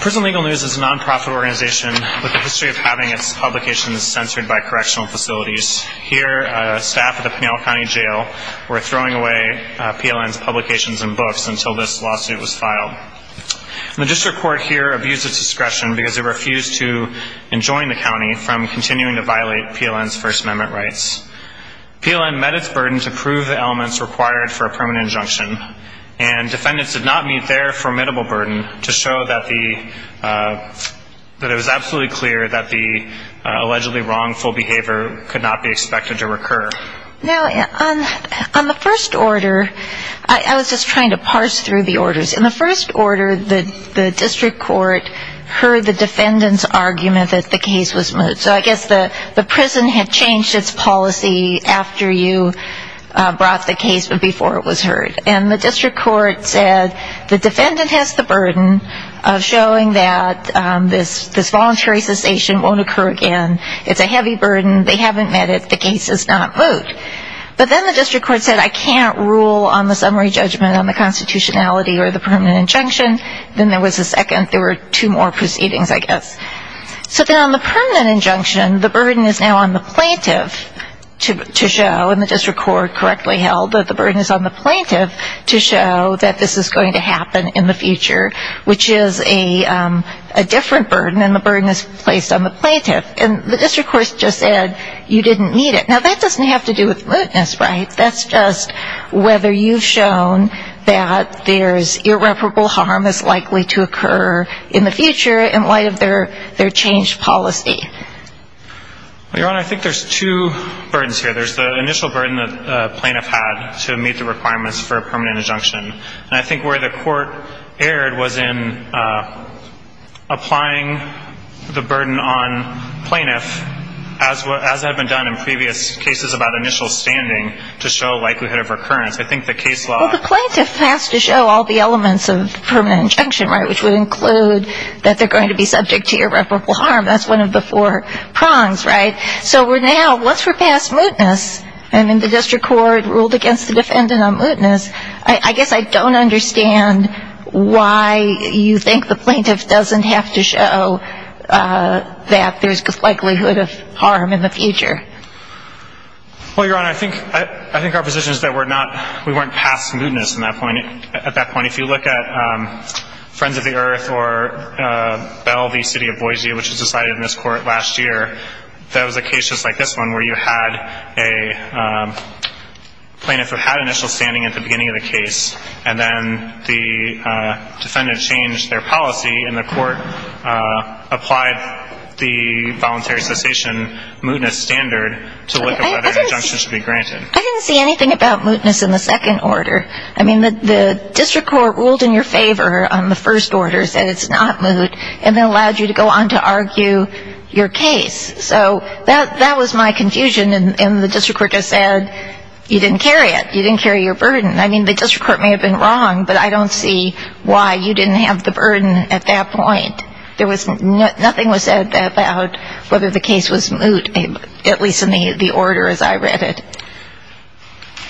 Prison Legal News is a non-profit organization with a history of having its publications censored by correctional facilities. Here, staff at the Pinella County Jail were throwing away PLN's publications and books until this lawsuit was filed. The district court here abused its discretion because it refused to enjoin the county from continuing to violate PLN's First Amendment rights. PLN met its burden to prove the elements required for a permanent injunction. And defendants did not meet their formidable burden to show that it was absolutely clear that the allegedly wrongful behavior could not be expected to recur. Now, on the first order, I was just trying to parse through the orders. In the first order, the district court heard the defendant's argument that the case was moot. So I guess the prison had changed its policy after you brought the case but before it was heard. And the district court said the defendant has the burden of showing that this voluntary cessation won't occur again. It's a heavy burden. They haven't met it. The case is not moot. But then the district court said I can't rule on the summary judgment on the constitutionality or the permanent injunction. Then there was a second. There were two more proceedings, I guess. So then on the permanent injunction, the burden is now on the plaintiff to show, and the district court correctly held that the burden is on the plaintiff to show that this is going to happen in the future, which is a different burden and the burden is placed on the plaintiff. And the district court just said you didn't meet it. Now, that doesn't have to do with mootness, right? That's just whether you've shown that there's irreparable harm that's likely to occur in the future in light of their changed policy. Your Honor, I think there's two burdens here. There's the initial burden that the plaintiff had to meet the requirements for a permanent injunction. And I think where the court erred was in applying the burden on plaintiff, as had been done in previous cases about initial standing, to show likelihood of recurrence. I think the case law- Well, the plaintiff has to show all the elements of permanent injunction, right, which would include that they're going to be subject to irreparable harm. That's one of the four prongs, right? So we're now, once we're past mootness, and then the district court ruled against the defendant on mootness, I guess I don't understand why you think the plaintiff doesn't have to show that there's likelihood of harm in the future. Well, Your Honor, I think our position is that we weren't past mootness at that point. If you look at Friends of the Earth or Bell v. City of Boise, which was decided in this court last year, that was a case just like this one where you had a plaintiff who had initial standing at the beginning of the case, and then the defendant changed their policy, and the court applied the voluntary cessation mootness standard to look at whether injunction should be granted. I didn't see anything about mootness in the second order. I mean, the district court ruled in your favor on the first order, said it's not moot, and then allowed you to go on to argue your case. So that was my confusion, and the district court just said you didn't carry it, you didn't carry your burden. I mean, the district court may have been wrong, but I don't see why you didn't have the burden at that point. Nothing was said about whether the case was moot, at least in the order as I read it.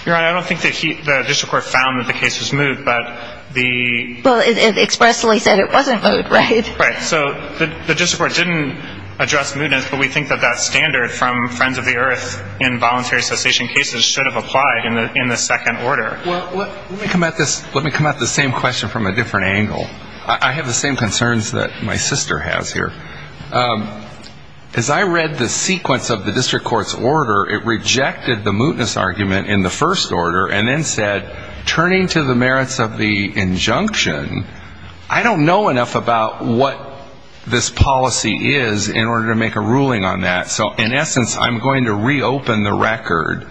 Your Honor, I don't think the district court found that the case was moot, but the ---- Well, it expressly said it wasn't moot, right? Right. So the district court didn't address mootness, but we think that that standard from Friends of the Earth in voluntary cessation cases should have applied in the second order. Well, let me come at the same question from a different angle. I have the same concerns that my sister has here. As I read the sequence of the district court's order, it rejected the mootness argument in the first order and then said turning to the merits of the injunction, I don't know enough about what this policy is in order to make a ruling on that. So in essence, I'm going to reopen the record,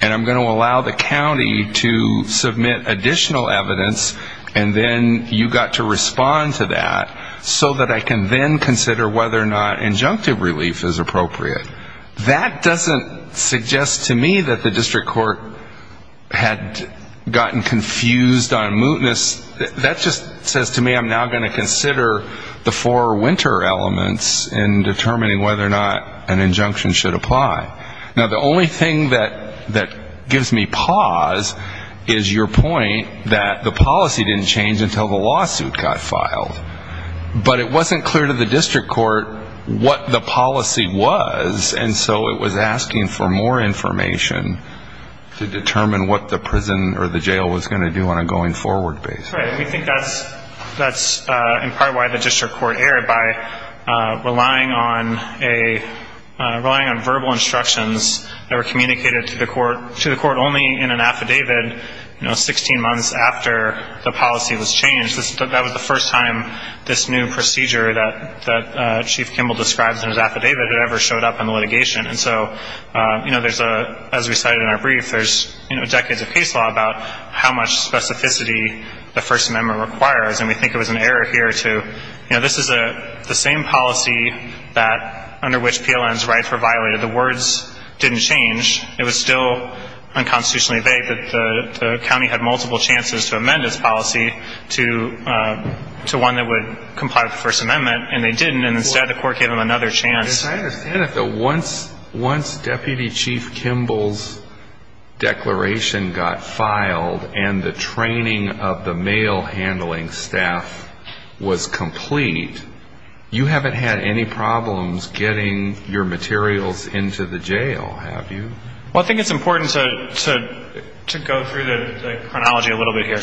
and I'm going to allow the county to submit additional evidence, and then you've got to respond to that so that I can then consider whether or not injunctive relief is appropriate. That doesn't suggest to me that the district court had gotten confused on mootness. That just says to me I'm now going to consider the four winter elements in determining whether or not an injunction should apply. Now, the only thing that gives me pause is your point that the policy didn't change until the lawsuit got filed. But it wasn't clear to the district court what the policy was, and so it was asking for more information to determine what the prison or the jail was going to do on a going-forward basis. Right. We think that's in part why the district court erred by relying on verbal instructions that were communicated to the court only in an affidavit, you know, 16 months after the policy was changed. That was the first time this new procedure that Chief Kimball describes in his affidavit had ever showed up in the litigation. And so, you know, as we cited in our brief, there's decades of case law about how much specificity the First Amendment requires, and we think it was an error here to, you know, this is the same policy under which PLNs write for violated. The words didn't change. It was still unconstitutionally vague that the county had multiple chances to amend its policy to one that would comply with the First Amendment, and they didn't, and instead the court gave them another chance. I understand that once Deputy Chief Kimball's declaration got filed and the training of the mail handling staff was complete, you haven't had any problems getting your materials into the jail, have you? Well, I think it's important to go through the chronology a little bit here.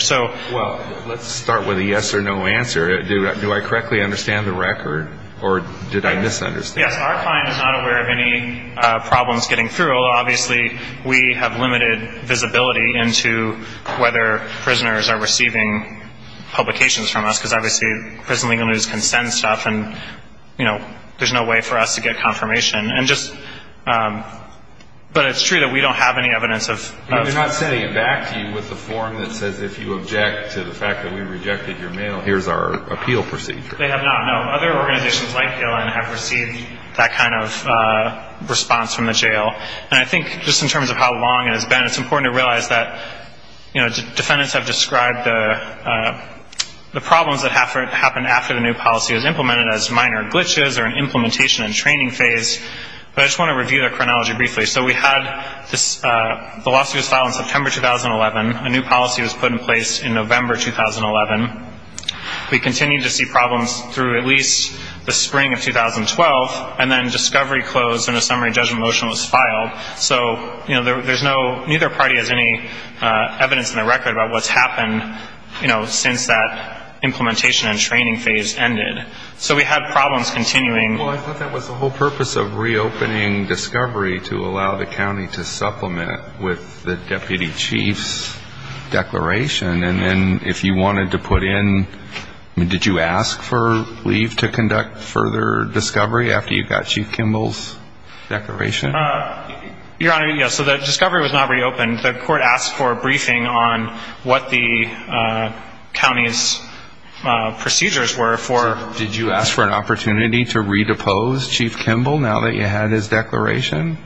Well, let's start with a yes or no answer. Do I correctly understand the record, or did I misunderstand? Yes, our client is not aware of any problems getting through, although obviously we have limited visibility into whether prisoners are receiving publications from us, because obviously prison legal news can send stuff and, you know, there's no way for us to get confirmation. And just, but it's true that we don't have any evidence of. They're not sending it back to you with a form that says if you object to the fact that we rejected your mail, here's our appeal procedure. They have not, no. Other organizations like PLN have received that kind of response from the jail, and I think just in terms of how long it has been, it's important to realize that, you know, the problems that happened after the new policy was implemented as minor glitches or an implementation and training phase. But I just want to review the chronology briefly. So we had this, the lawsuit was filed in September 2011. A new policy was put in place in November 2011. We continued to see problems through at least the spring of 2012, so, you know, there's no, neither party has any evidence in the record about what's happened, you know, since that implementation and training phase ended. So we had problems continuing. Well, I thought that was the whole purpose of reopening discovery to allow the county to supplement it with the deputy chief's declaration. And then if you wanted to put in, I mean, did you ask for leave to conduct further discovery after you got Chief Kimball's declaration? Your Honor, yes. So the discovery was not reopened. The court asked for a briefing on what the county's procedures were for. Did you ask for an opportunity to re-depose Chief Kimball now that you had his declaration?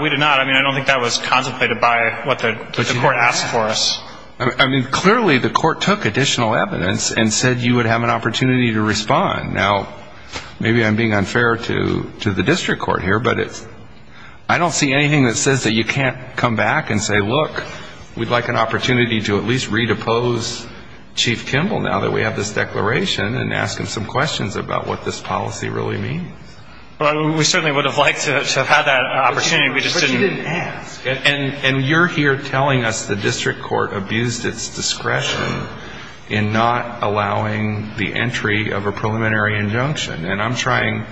We did not. I mean, I don't think that was contemplated by what the court asked for us. I mean, clearly the court took additional evidence and said you would have an opportunity to respond. Now, maybe I'm being unfair to the district court here, but I don't see anything that says that you can't come back and say, look, we'd like an opportunity to at least re-depose Chief Kimball now that we have this declaration and ask him some questions about what this policy really means. Well, we certainly would have liked to have had that opportunity. But you didn't ask. And you're here telling us the district court abused its discretion in not allowing the entry of a preliminary injunction. And I'm trying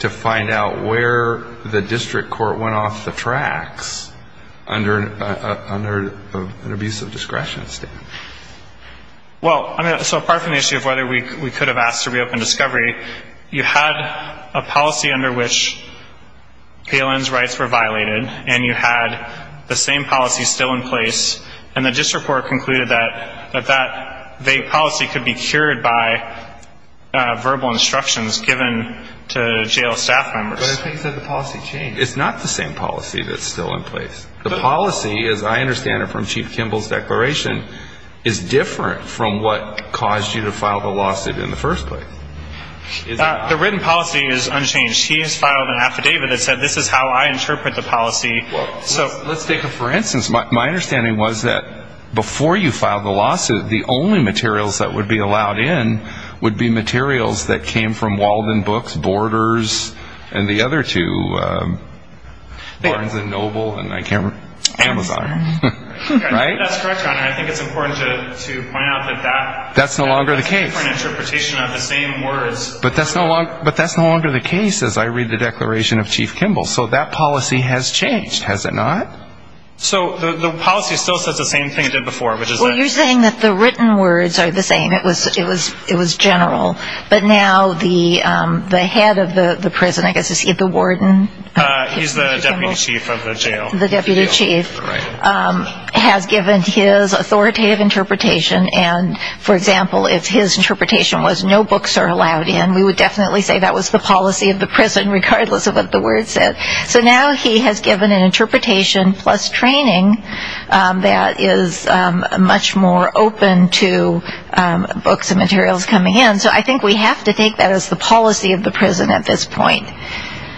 to find out where the district court went off the tracks under an abusive discretion statement. Well, so apart from the issue of whether we could have asked to reopen discovery, you had a policy under which Palin's rights were violated and you had the same policy still in place, and the district court concluded that that policy could be cured by verbal instructions given to jail staff members. But I think that the policy changed. It's not the same policy that's still in place. The policy, as I understand it from Chief Kimball's declaration, is different from what caused you to file the lawsuit in the first place. The written policy is unchanged. She has filed an affidavit that said this is how I interpret the policy. So let's take it for instance. My understanding was that before you filed the lawsuit, the only materials that would be allowed in would be materials that came from Walden Books, Borders, and the other two, Barnes & Noble and Amazon. Right? That's correct, Your Honor. I think it's important to point out that that's no longer the case. That's a different interpretation of the same words. But that's no longer the case as I read the declaration of Chief Kimball. So that policy has changed, has it not? So the policy still says the same thing it did before. Well, you're saying that the written words are the same. It was general. But now the head of the prison, I guess, is he the warden? He's the deputy chief of the jail. The deputy chief has given his authoritative interpretation. And, for example, if his interpretation was no books are allowed in, we would definitely say that was the policy of the prison regardless of what the words said. So now he has given an interpretation plus training that is much more open to books and materials coming in. So I think we have to take that as the policy of the prison at this point.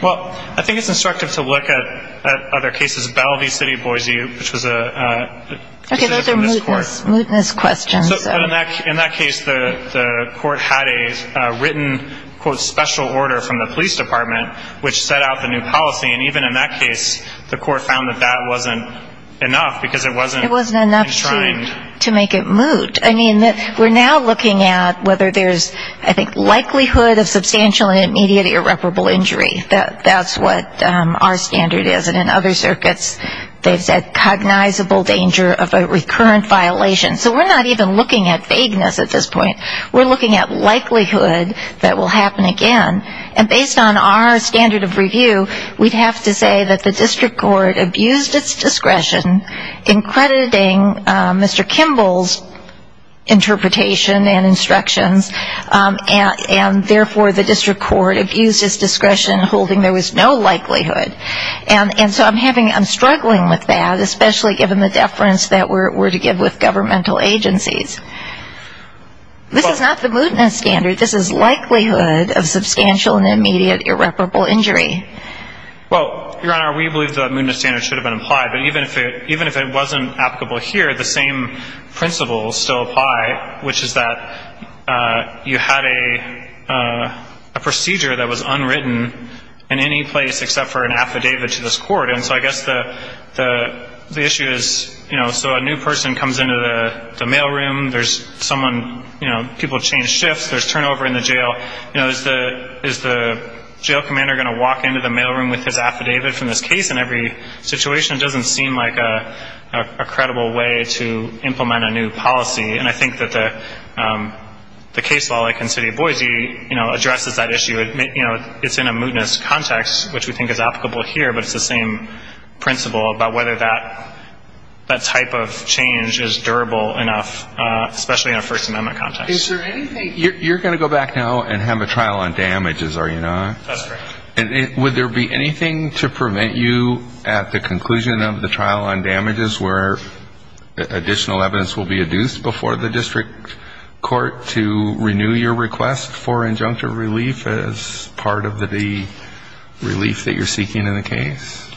Well, I think it's instructive to look at other cases. This is Bellevue City, Boise, which was a decision from this court. Okay, those are mootness questions. In that case, the court had a written, quote, special order from the police department, which set out the new policy. And even in that case, the court found that that wasn't enough because it wasn't enshrined. It wasn't enough to make it moot. I mean, we're now looking at whether there's, I think, likelihood of substantial and immediate irreparable injury. That's what our standard is. And in other circuits, they've said cognizable danger of a recurrent violation. So we're not even looking at vagueness at this point. We're looking at likelihood that will happen again. And based on our standard of review, we'd have to say that the district court abused its discretion in crediting Mr. Kimball's interpretation and instructions, and therefore the district court abused its discretion, holding there was no likelihood. And so I'm struggling with that, especially given the deference that we're to give with governmental agencies. This is not the mootness standard. This is likelihood of substantial and immediate irreparable injury. Well, Your Honor, we believe the mootness standard should have been applied. But even if it wasn't applicable here, the same principles still apply, which is that you had a procedure that was unwritten in any place except for an affidavit to this court. And so I guess the issue is, you know, so a new person comes into the mailroom. There's someone, you know, people change shifts. There's turnover in the jail. You know, is the jail commander going to walk into the mailroom with his affidavit from this case? In every situation, it doesn't seem like a credible way to implement a new policy. And I think that the case law, like in the city of Boise, you know, addresses that issue. You know, it's in a mootness context, which we think is applicable here, but it's the same principle about whether that type of change is durable enough, especially in a First Amendment context. Is there anything you're going to go back now and have a trial on damages, are you not? That's correct. Would there be anything to prevent you at the conclusion of the trial on damages where additional evidence will be adduced before the district court to renew your request for injunctive relief as part of the relief that you're seeking in the case?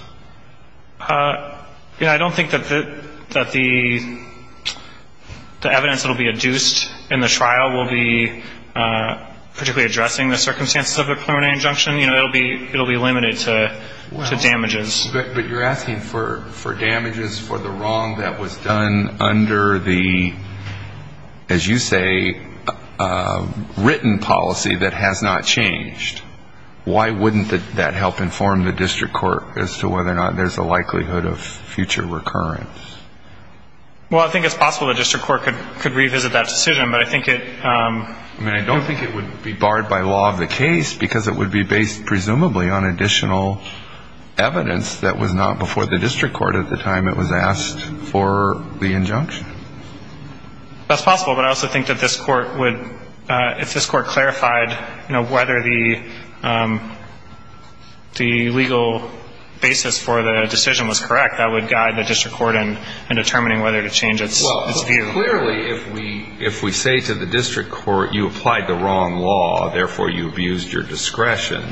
Yeah, I don't think that the evidence that will be adduced in the trial will be particularly addressing the circumstances of a preliminary injunction. You know, it will be limited to damages. But you're asking for damages for the wrong that was done under the, as you say, written policy that has not changed. Why wouldn't that help inform the district court as to whether or not there's a likelihood of future recurrence? Well, I think it's possible the district court could revisit that decision, but I think it — I mean, I don't think it would be barred by law of the case, because it would be based presumably on additional evidence that was not before the district court at the time it was asked for the injunction. That's possible, but I also think that this court would — if this court clarified, you know, whether the legal basis for the decision was correct, that would guide the district court in determining whether to change its view. Clearly, if we say to the district court, you applied the wrong law, therefore you abused your discretion,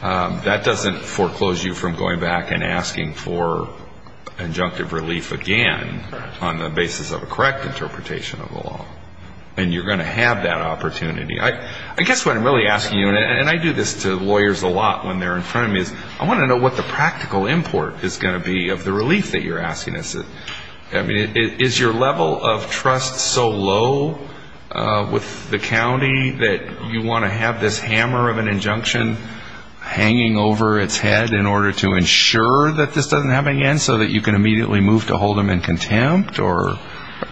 that doesn't foreclose you from going back and asking for injunctive relief again on the basis of a correct interpretation of the law. And you're going to have that opportunity. I guess what I'm really asking you, and I do this to lawyers a lot when they're in front of me, is I want to know what the practical import is going to be of the relief that you're asking us. I mean, is your level of trust so low with the county that you want to have this hammer of an injunction hanging over its head in order to ensure that this doesn't happen again so that you can immediately move to hold them in contempt? Or,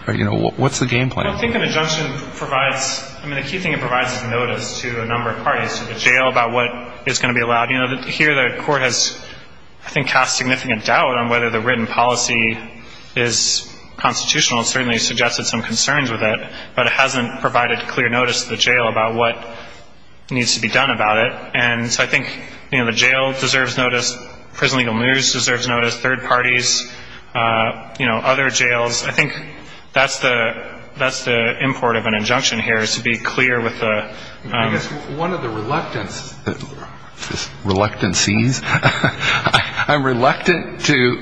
you know, what's the game plan? Well, I think an injunction provides — I mean, the key thing it provides is notice to a number of parties, to the jail, about what is going to be allowed. You know, here the court has, I think, cast significant doubt on whether the written policy is constitutional. It certainly suggested some concerns with it. But it hasn't provided clear notice to the jail about what needs to be done about it. And so I think, you know, the jail deserves notice, prison legal news deserves notice, third parties, you know, other jails. I think that's the — that's the import of an injunction here, is to be clear with the — I guess one of the reluctance — reluctancies. I'm reluctant to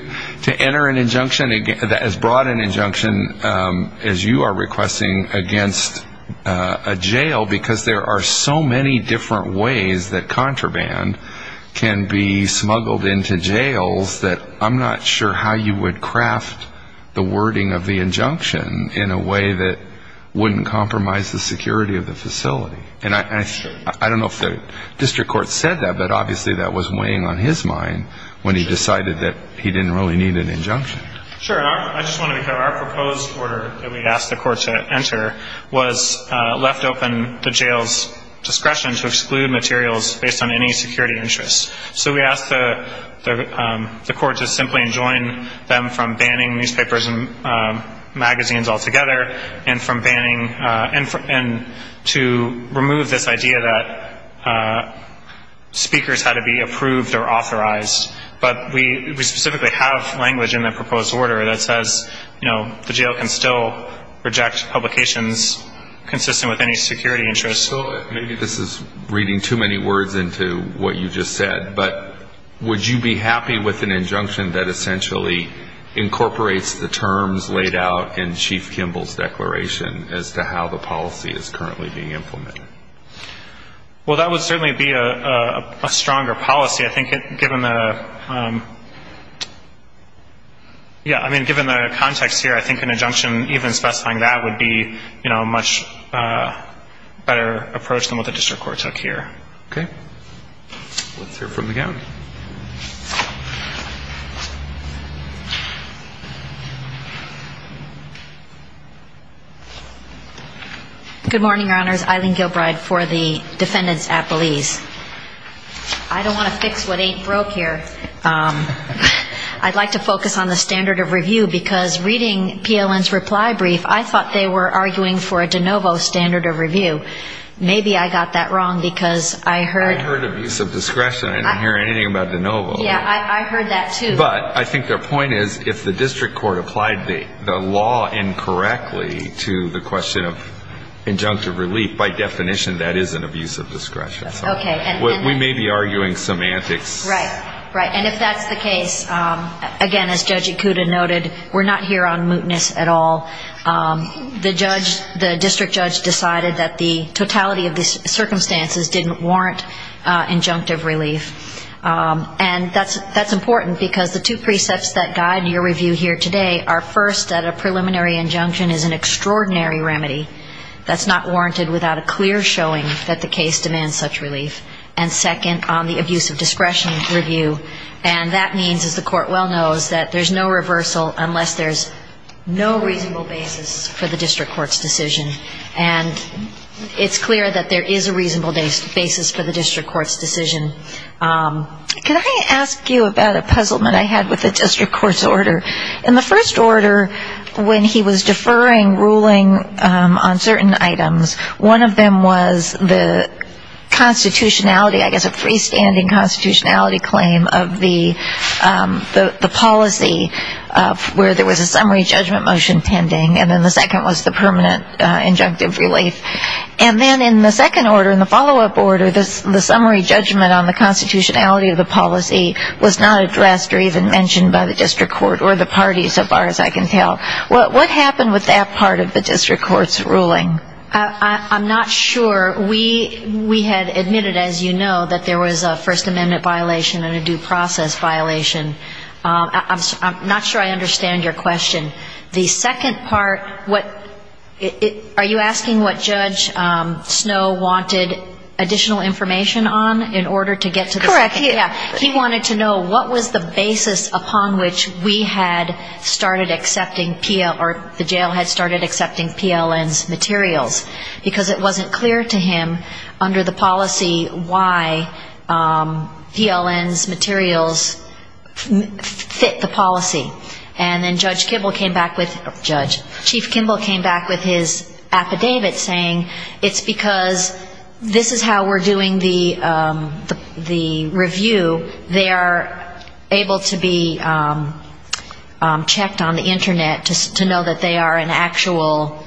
enter an injunction — as broad an injunction as you are requesting against a jail, because there are so many different ways that contraband can be smuggled into jails that I'm not sure how you would craft the wording of the injunction in a way that wouldn't compromise the security of the facility. And I — I don't know if the district court said that, but obviously that was weighing on his mind when he decided that he didn't really need an injunction. Sure. I just want to be clear. Our proposed order that we asked the court to enter was left open the jail's discretion to exclude materials based on any security interests. So we asked the court to simply enjoin them from banning newspapers and magazines altogether, and from banning — and to remove this idea that speakers had to be approved or authorized. But we specifically have language in the proposed order that says, you know, the jail can still reject publications consistent with any security interests. So maybe this is reading too many words into what you just said, but would you be happy with an injunction that essentially incorporates the terms laid out in Chief Kimball's declaration as to how the policy is currently being implemented? Well, that would certainly be a stronger policy. I think given the — yeah, I mean, given the context here, I think an injunction even specifying that would be, you know, a much better approach than what the district court took here. Okay. Let's hear from the county. Good morning, Your Honors. Eileen Gilbride for the defendants' appellees. I don't want to fix what ain't broke here. I'd like to focus on the standard of review, because reading PLN's reply brief, I thought they were arguing for a de novo standard of review. Maybe I got that wrong, because I heard — I thought they were arguing for a de novo standard of review, but I thought they were arguing for a de novo standard of review. Okay. And if that's the case, again, as Judge Ikuda noted, we're not here on mootness at all. The judge, the district judge decided that the totality of the circumstances didn't warrant injunctive relief. And that's important, because the two precepts that guide your review here today are first, that a preliminary injunction is an extraordinary remedy that's not warranted without a clear showing that the case demands such relief, and second, on the abuse of discretion review. And that means, as the court well knows, that there's no reversal unless there's no reasonable basis for the district court's decision. And it's clear that there is a reasonable basis for the district court's decision. Can I ask you about a puzzlement I had with the district court's order? In the first order, when he was deferring ruling on certain items, one of them was the constitutionality, I guess a freestanding constitutionality claim of the policy where there was a summary judgment motion pending, and then the second was the permanent injunctive relief. And then in the second order, in the follow-up order, the summary judgment motion on the constitutionality of the policy was not addressed or even mentioned by the district court or the party so far as I can tell. What happened with that part of the district court's ruling? I'm not sure. We had admitted, as you know, that there was a First Amendment violation and a due process violation. I'm not sure I understand your question. The second part, what are you asking what Judge Snow wanted additional information on in order to get to the second part? He wanted to know what was the basis upon which we had started accepting, or the jail had started accepting PLN's materials, because it wasn't clear to him under the policy why PLN's materials fit the policy. And then Judge Kimball came back with, Judge, Chief Kimball came back with his affidavit saying, it's because this is how we're doing the, what we're doing with the review, they are able to be checked on the Internet to know that they are an actual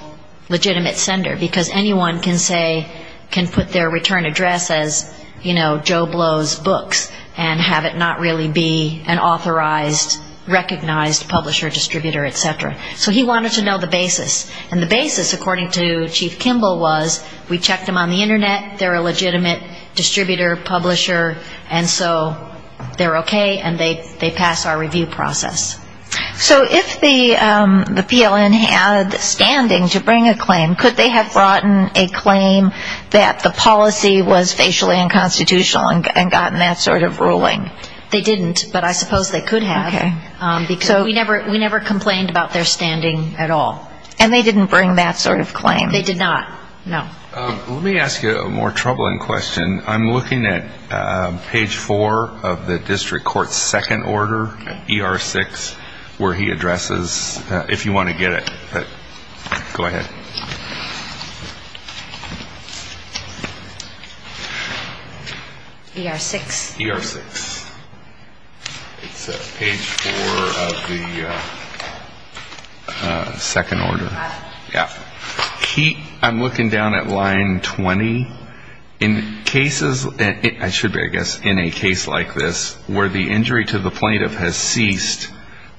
legitimate sender, because anyone can say, can put their return address as, you know, Joe Blow's books and have it not really be an authorized, recognized publisher, distributor, et cetera. So he wanted to know the basis. And the basis, according to Chief Kimball, was we checked them on the Internet, they're a legitimate sender, and so they're okay, and they pass our review process. So if the PLN had standing to bring a claim, could they have brought in a claim that the policy was facially unconstitutional and gotten that sort of ruling? They didn't, but I suppose they could have. We never complained about their standing at all. And they didn't bring that sort of claim? They did not, no. Let me ask you a more troubling question. I'm looking at page four of the district court's second order, ER6, where he addresses, if you want to get it, go ahead. ER6. It's page four of the second order. Yeah. I'm looking down at line 20. In cases, I should be, I guess, in a case like this, where the injury to the plaintiff has ceased,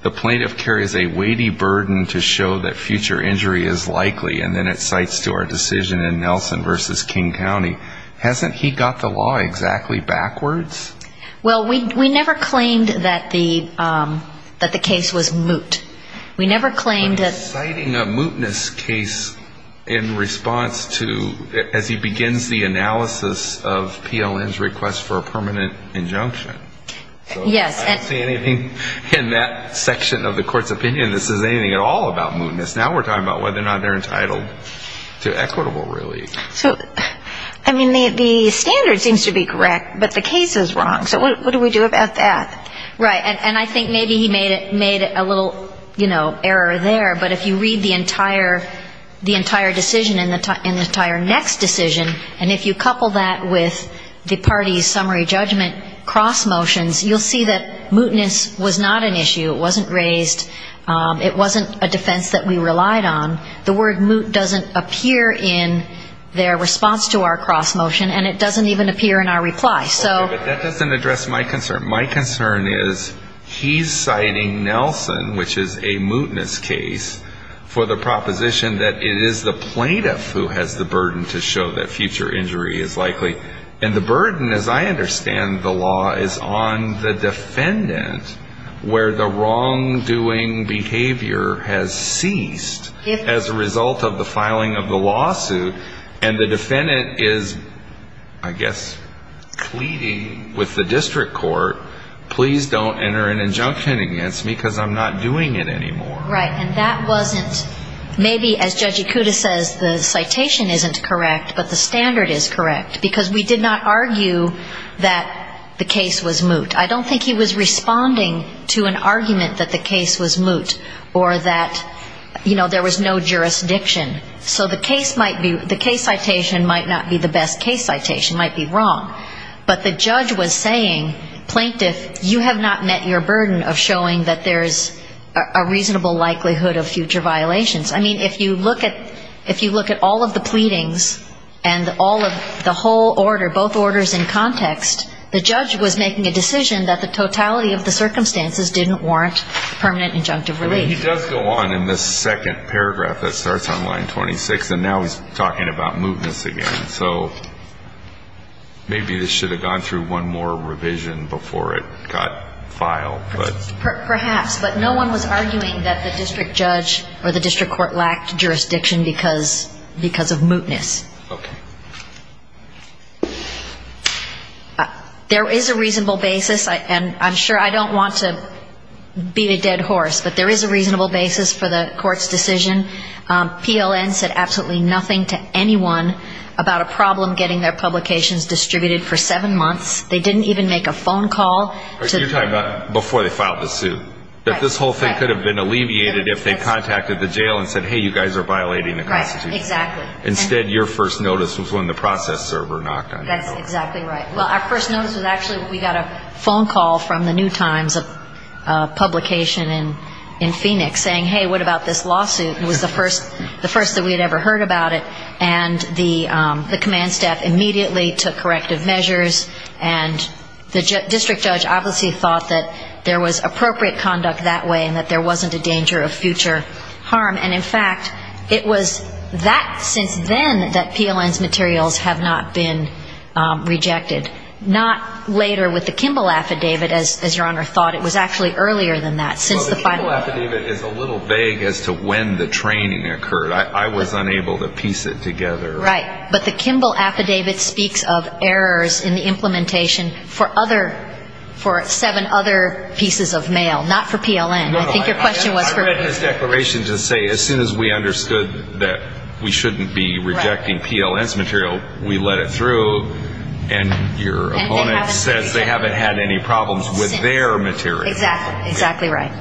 the plaintiff carries a weighty burden to show that future injury is likely, and then it cites to our decision in Nelson versus King County. Hasn't he got the law exactly backwards? Well, we never claimed that the case was moot. We never claimed that the case was moot. He's citing a mootness case in response to, as he begins the analysis of PLN's request for a permanent injunction. I don't see anything in that section of the court's opinion that says anything at all about mootness. Now we're talking about whether or not they're entitled to equitable relief. I mean, the standard seems to be correct, but the case is wrong. So what do we do about that? Right. And I think maybe he made a little, you know, error there, but if you read the entire decision in the entire next decision, and if you couple that with the party's summary judgment cross motions, you'll see that mootness was not an issue. It wasn't raised. It wasn't a defense that we relied on. The word moot doesn't appear in their response to our cross motion, and it doesn't even appear in our reply. Okay, but that doesn't address my concern. My concern is he's citing Nelson, which is a mootness case, for the proposition that it is the plaintiff who has the burden to show that future injury is likely. And the burden, as I understand the law, is on the defendant, where the wrongdoing behavior has ceased as a result of the filing of the lawsuit, and the defendant is not pleading with the district court, please don't enter an injunction against me, because I'm not doing it anymore. Right. And that wasn't, maybe as Judge Ikuda says, the citation isn't correct, but the standard is correct, because we did not argue that the case was moot. I don't think he was responding to an argument that the case was moot, or that, you know, there was no jurisdiction. So the case might be, the case citation might not be the best case citation. It might be wrong. But the judge was saying, plaintiff, you have not met your burden of showing that there's a reasonable likelihood of future violations. I mean, if you look at all of the pleadings, and all of the whole order, both orders in context, the judge was making a decision that the totality of the circumstances didn't warrant permanent injunctive relief. I mean, he does go on in this second paragraph that starts on line 26, and now he's talking about mootness again. So, maybe this should have gone through one more revision before it got filed. Perhaps. But no one was arguing that the district judge or the district court lacked jurisdiction because of mootness. Okay. There is a reasonable basis, and I'm sure, I don't want to beat a dead horse, but there is a reasonable basis for the court's decision. PLN said absolutely nothing to anyone about a problem getting their publications distributed for seven months. They didn't even make a phone call. You're talking about before they filed the suit. That this whole thing could have been alleviated if they contacted the jail and said, hey, you guys are violating the Constitution. Right. Exactly. Instead, your first notice was when the process server knocked on your door. That's exactly right. Well, our first notice was actually when we got a phone call from the New Times, a publication in Phoenix, saying, hey, what about this lawsuit? It was the first that we had ever heard about it. And the command staff immediately took corrective measures, and the district judge obviously thought that there was appropriate conduct that way and that there wasn't a danger of future harm. And, in fact, it was that since then that PLN's materials have not been rejected. Not later with the Kimball affidavit, as your Honor thought. It was actually earlier than that. Well, the Kimball affidavit is a little vague as to when the training occurred. I was unable to piece it together. Right. But the Kimball affidavit speaks of errors in the implementation for seven other pieces of mail, not for PLN. I read in his declaration to say as soon as we understood that we shouldn't be rejecting PLN's material, we let it through. And your opponent says they haven't had any problems with their material. Exactly. Exactly right.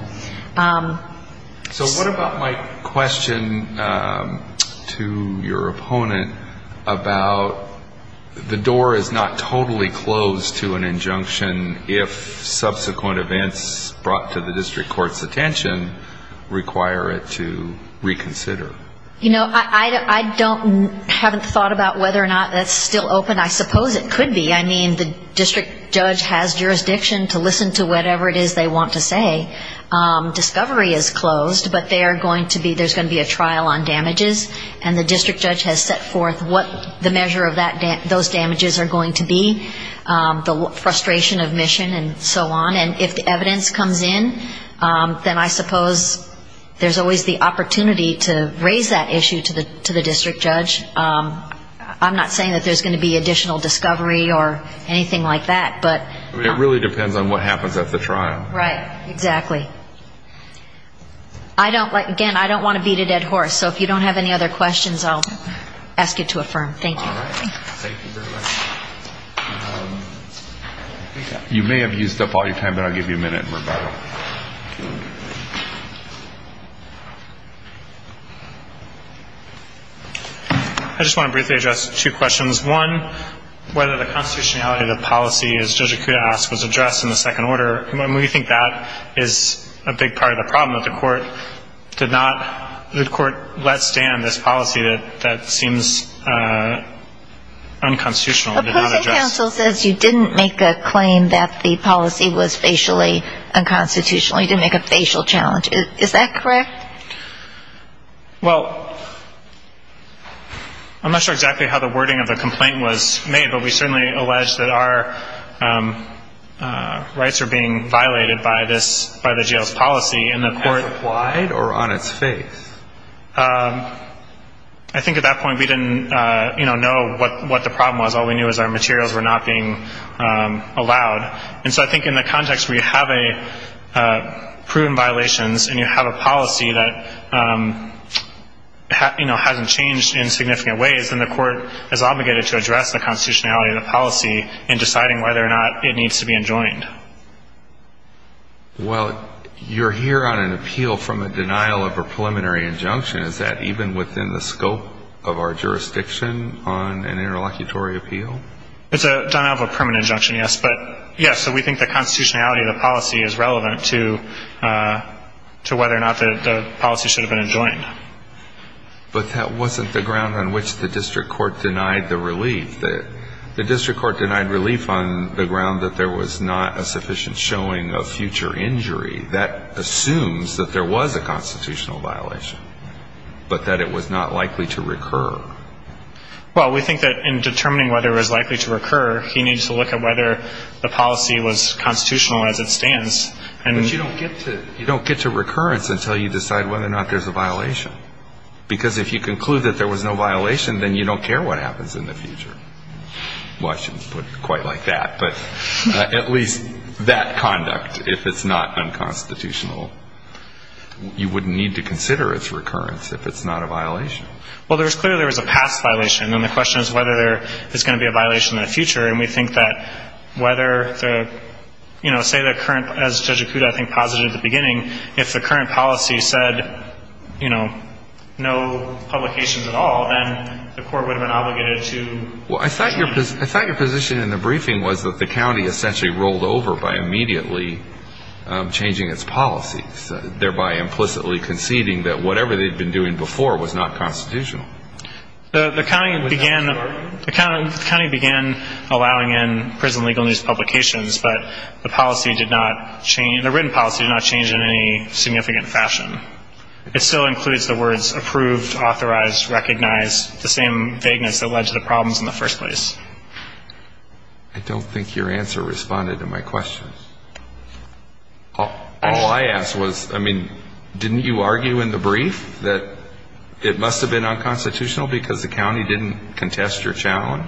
So what about my question to your opponent about the door is not totally closed to an injunction if subsequent events brought to the district court's attention require it to reconsider? You know, I don't haven't thought about whether or not that's still open. I suppose it could be. I mean, the district judge has jurisdiction to listen to whatever it is they want to say. Discovery is closed, but there's going to be a trial on damages, and the district judge has set forth what the measure of those damages are going to be, the frustration of mission and so on. And if the evidence comes in, then I suppose there's always the opportunity to raise that issue to the district judge. I'm not saying that there's going to be additional discovery or anything like that. It really depends on what happens at the trial. Right. Exactly. Again, I don't want to beat a dead horse, so if you don't have any other questions, I'll ask you to affirm. Thank you. All right. Thank you very much. You may have used up all your time, but I'll give you a minute in rebuttal. I just want to briefly address two questions. One, whether the constitutionality of the policy, as Judge Akuta asked, was addressed in the second order. I mean, we think that is a big part of the problem, that the court did not, the court let stand this policy that seems unconstitutional and did not address it. But present counsel says you didn't make a claim that the policy was facially unconstitutional, you didn't make a facial challenge. Is that correct? Well, I'm not sure exactly how the wording of the complaint was made, but we certainly allege that our rights are being violated by this, by the jail's policy. I think at that point we didn't know what the problem was. All we knew was our materials were not being allowed. And so I think in the context where you have proven violations and you have a policy that hasn't changed in significant ways, then the court is obligated to address the constitutionality of the policy in deciding whether or not it needs to be enjoined. Well, you're here on an appeal from a denial of a preliminary injunction. Is that even within the scope of our jurisdiction on an interlocutory appeal? It's a denial of a permanent injunction, yes. But, yes, we think the constitutionality of the policy is relevant to whether or not the policy should have been enjoined. But that wasn't the ground on which the district court denied the relief. The district court denied relief on the ground that there was not a sufficient showing of future injury. That assumes that there was a constitutional violation, but that it was not likely to recur. Well, we think that in determining whether it was likely to recur, he needs to look at whether the policy was constitutional as it stands. But you don't get to recurrence until you decide whether or not there's a violation. Because if you conclude that there was no violation, then you don't care what happens in the future. Well, I shouldn't put it quite like that, but at least that conduct, if it's not unconstitutional, you wouldn't need to consider its recurrence if it's not a violation. Well, there's clearly a past violation, and the question is whether there's going to be a violation in the future. And we think that whether the, you know, say the current, as Judge Acuda, I think, posited at the beginning, if the current policy said, you know, no publications at all, then the court would have been obligated to. Well, I thought your position in the briefing was that the county essentially rolled over by immediately changing its policies, thereby implicitly conceding that whatever they'd been doing before was not constitutional. The county began allowing in prison legal news publications, but the policy did not change, the written policy did not change in any significant fashion. It still includes the words approved, authorized, recognized, the same vagueness that led to the problems in the first place. I don't think your answer responded to my question. All I asked was, I mean, didn't you argue in the brief that it must have been unconstitutional because the county didn't contest your challenge?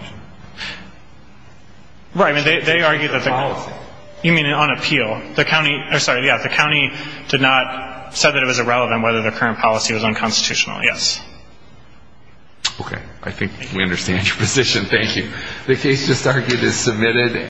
Right. I mean, they argued that the county. Policy. You mean on appeal. The county did not say that it was irrelevant whether the current policy was unconstitutional, yes. Okay. I think we understand your position. Thank you.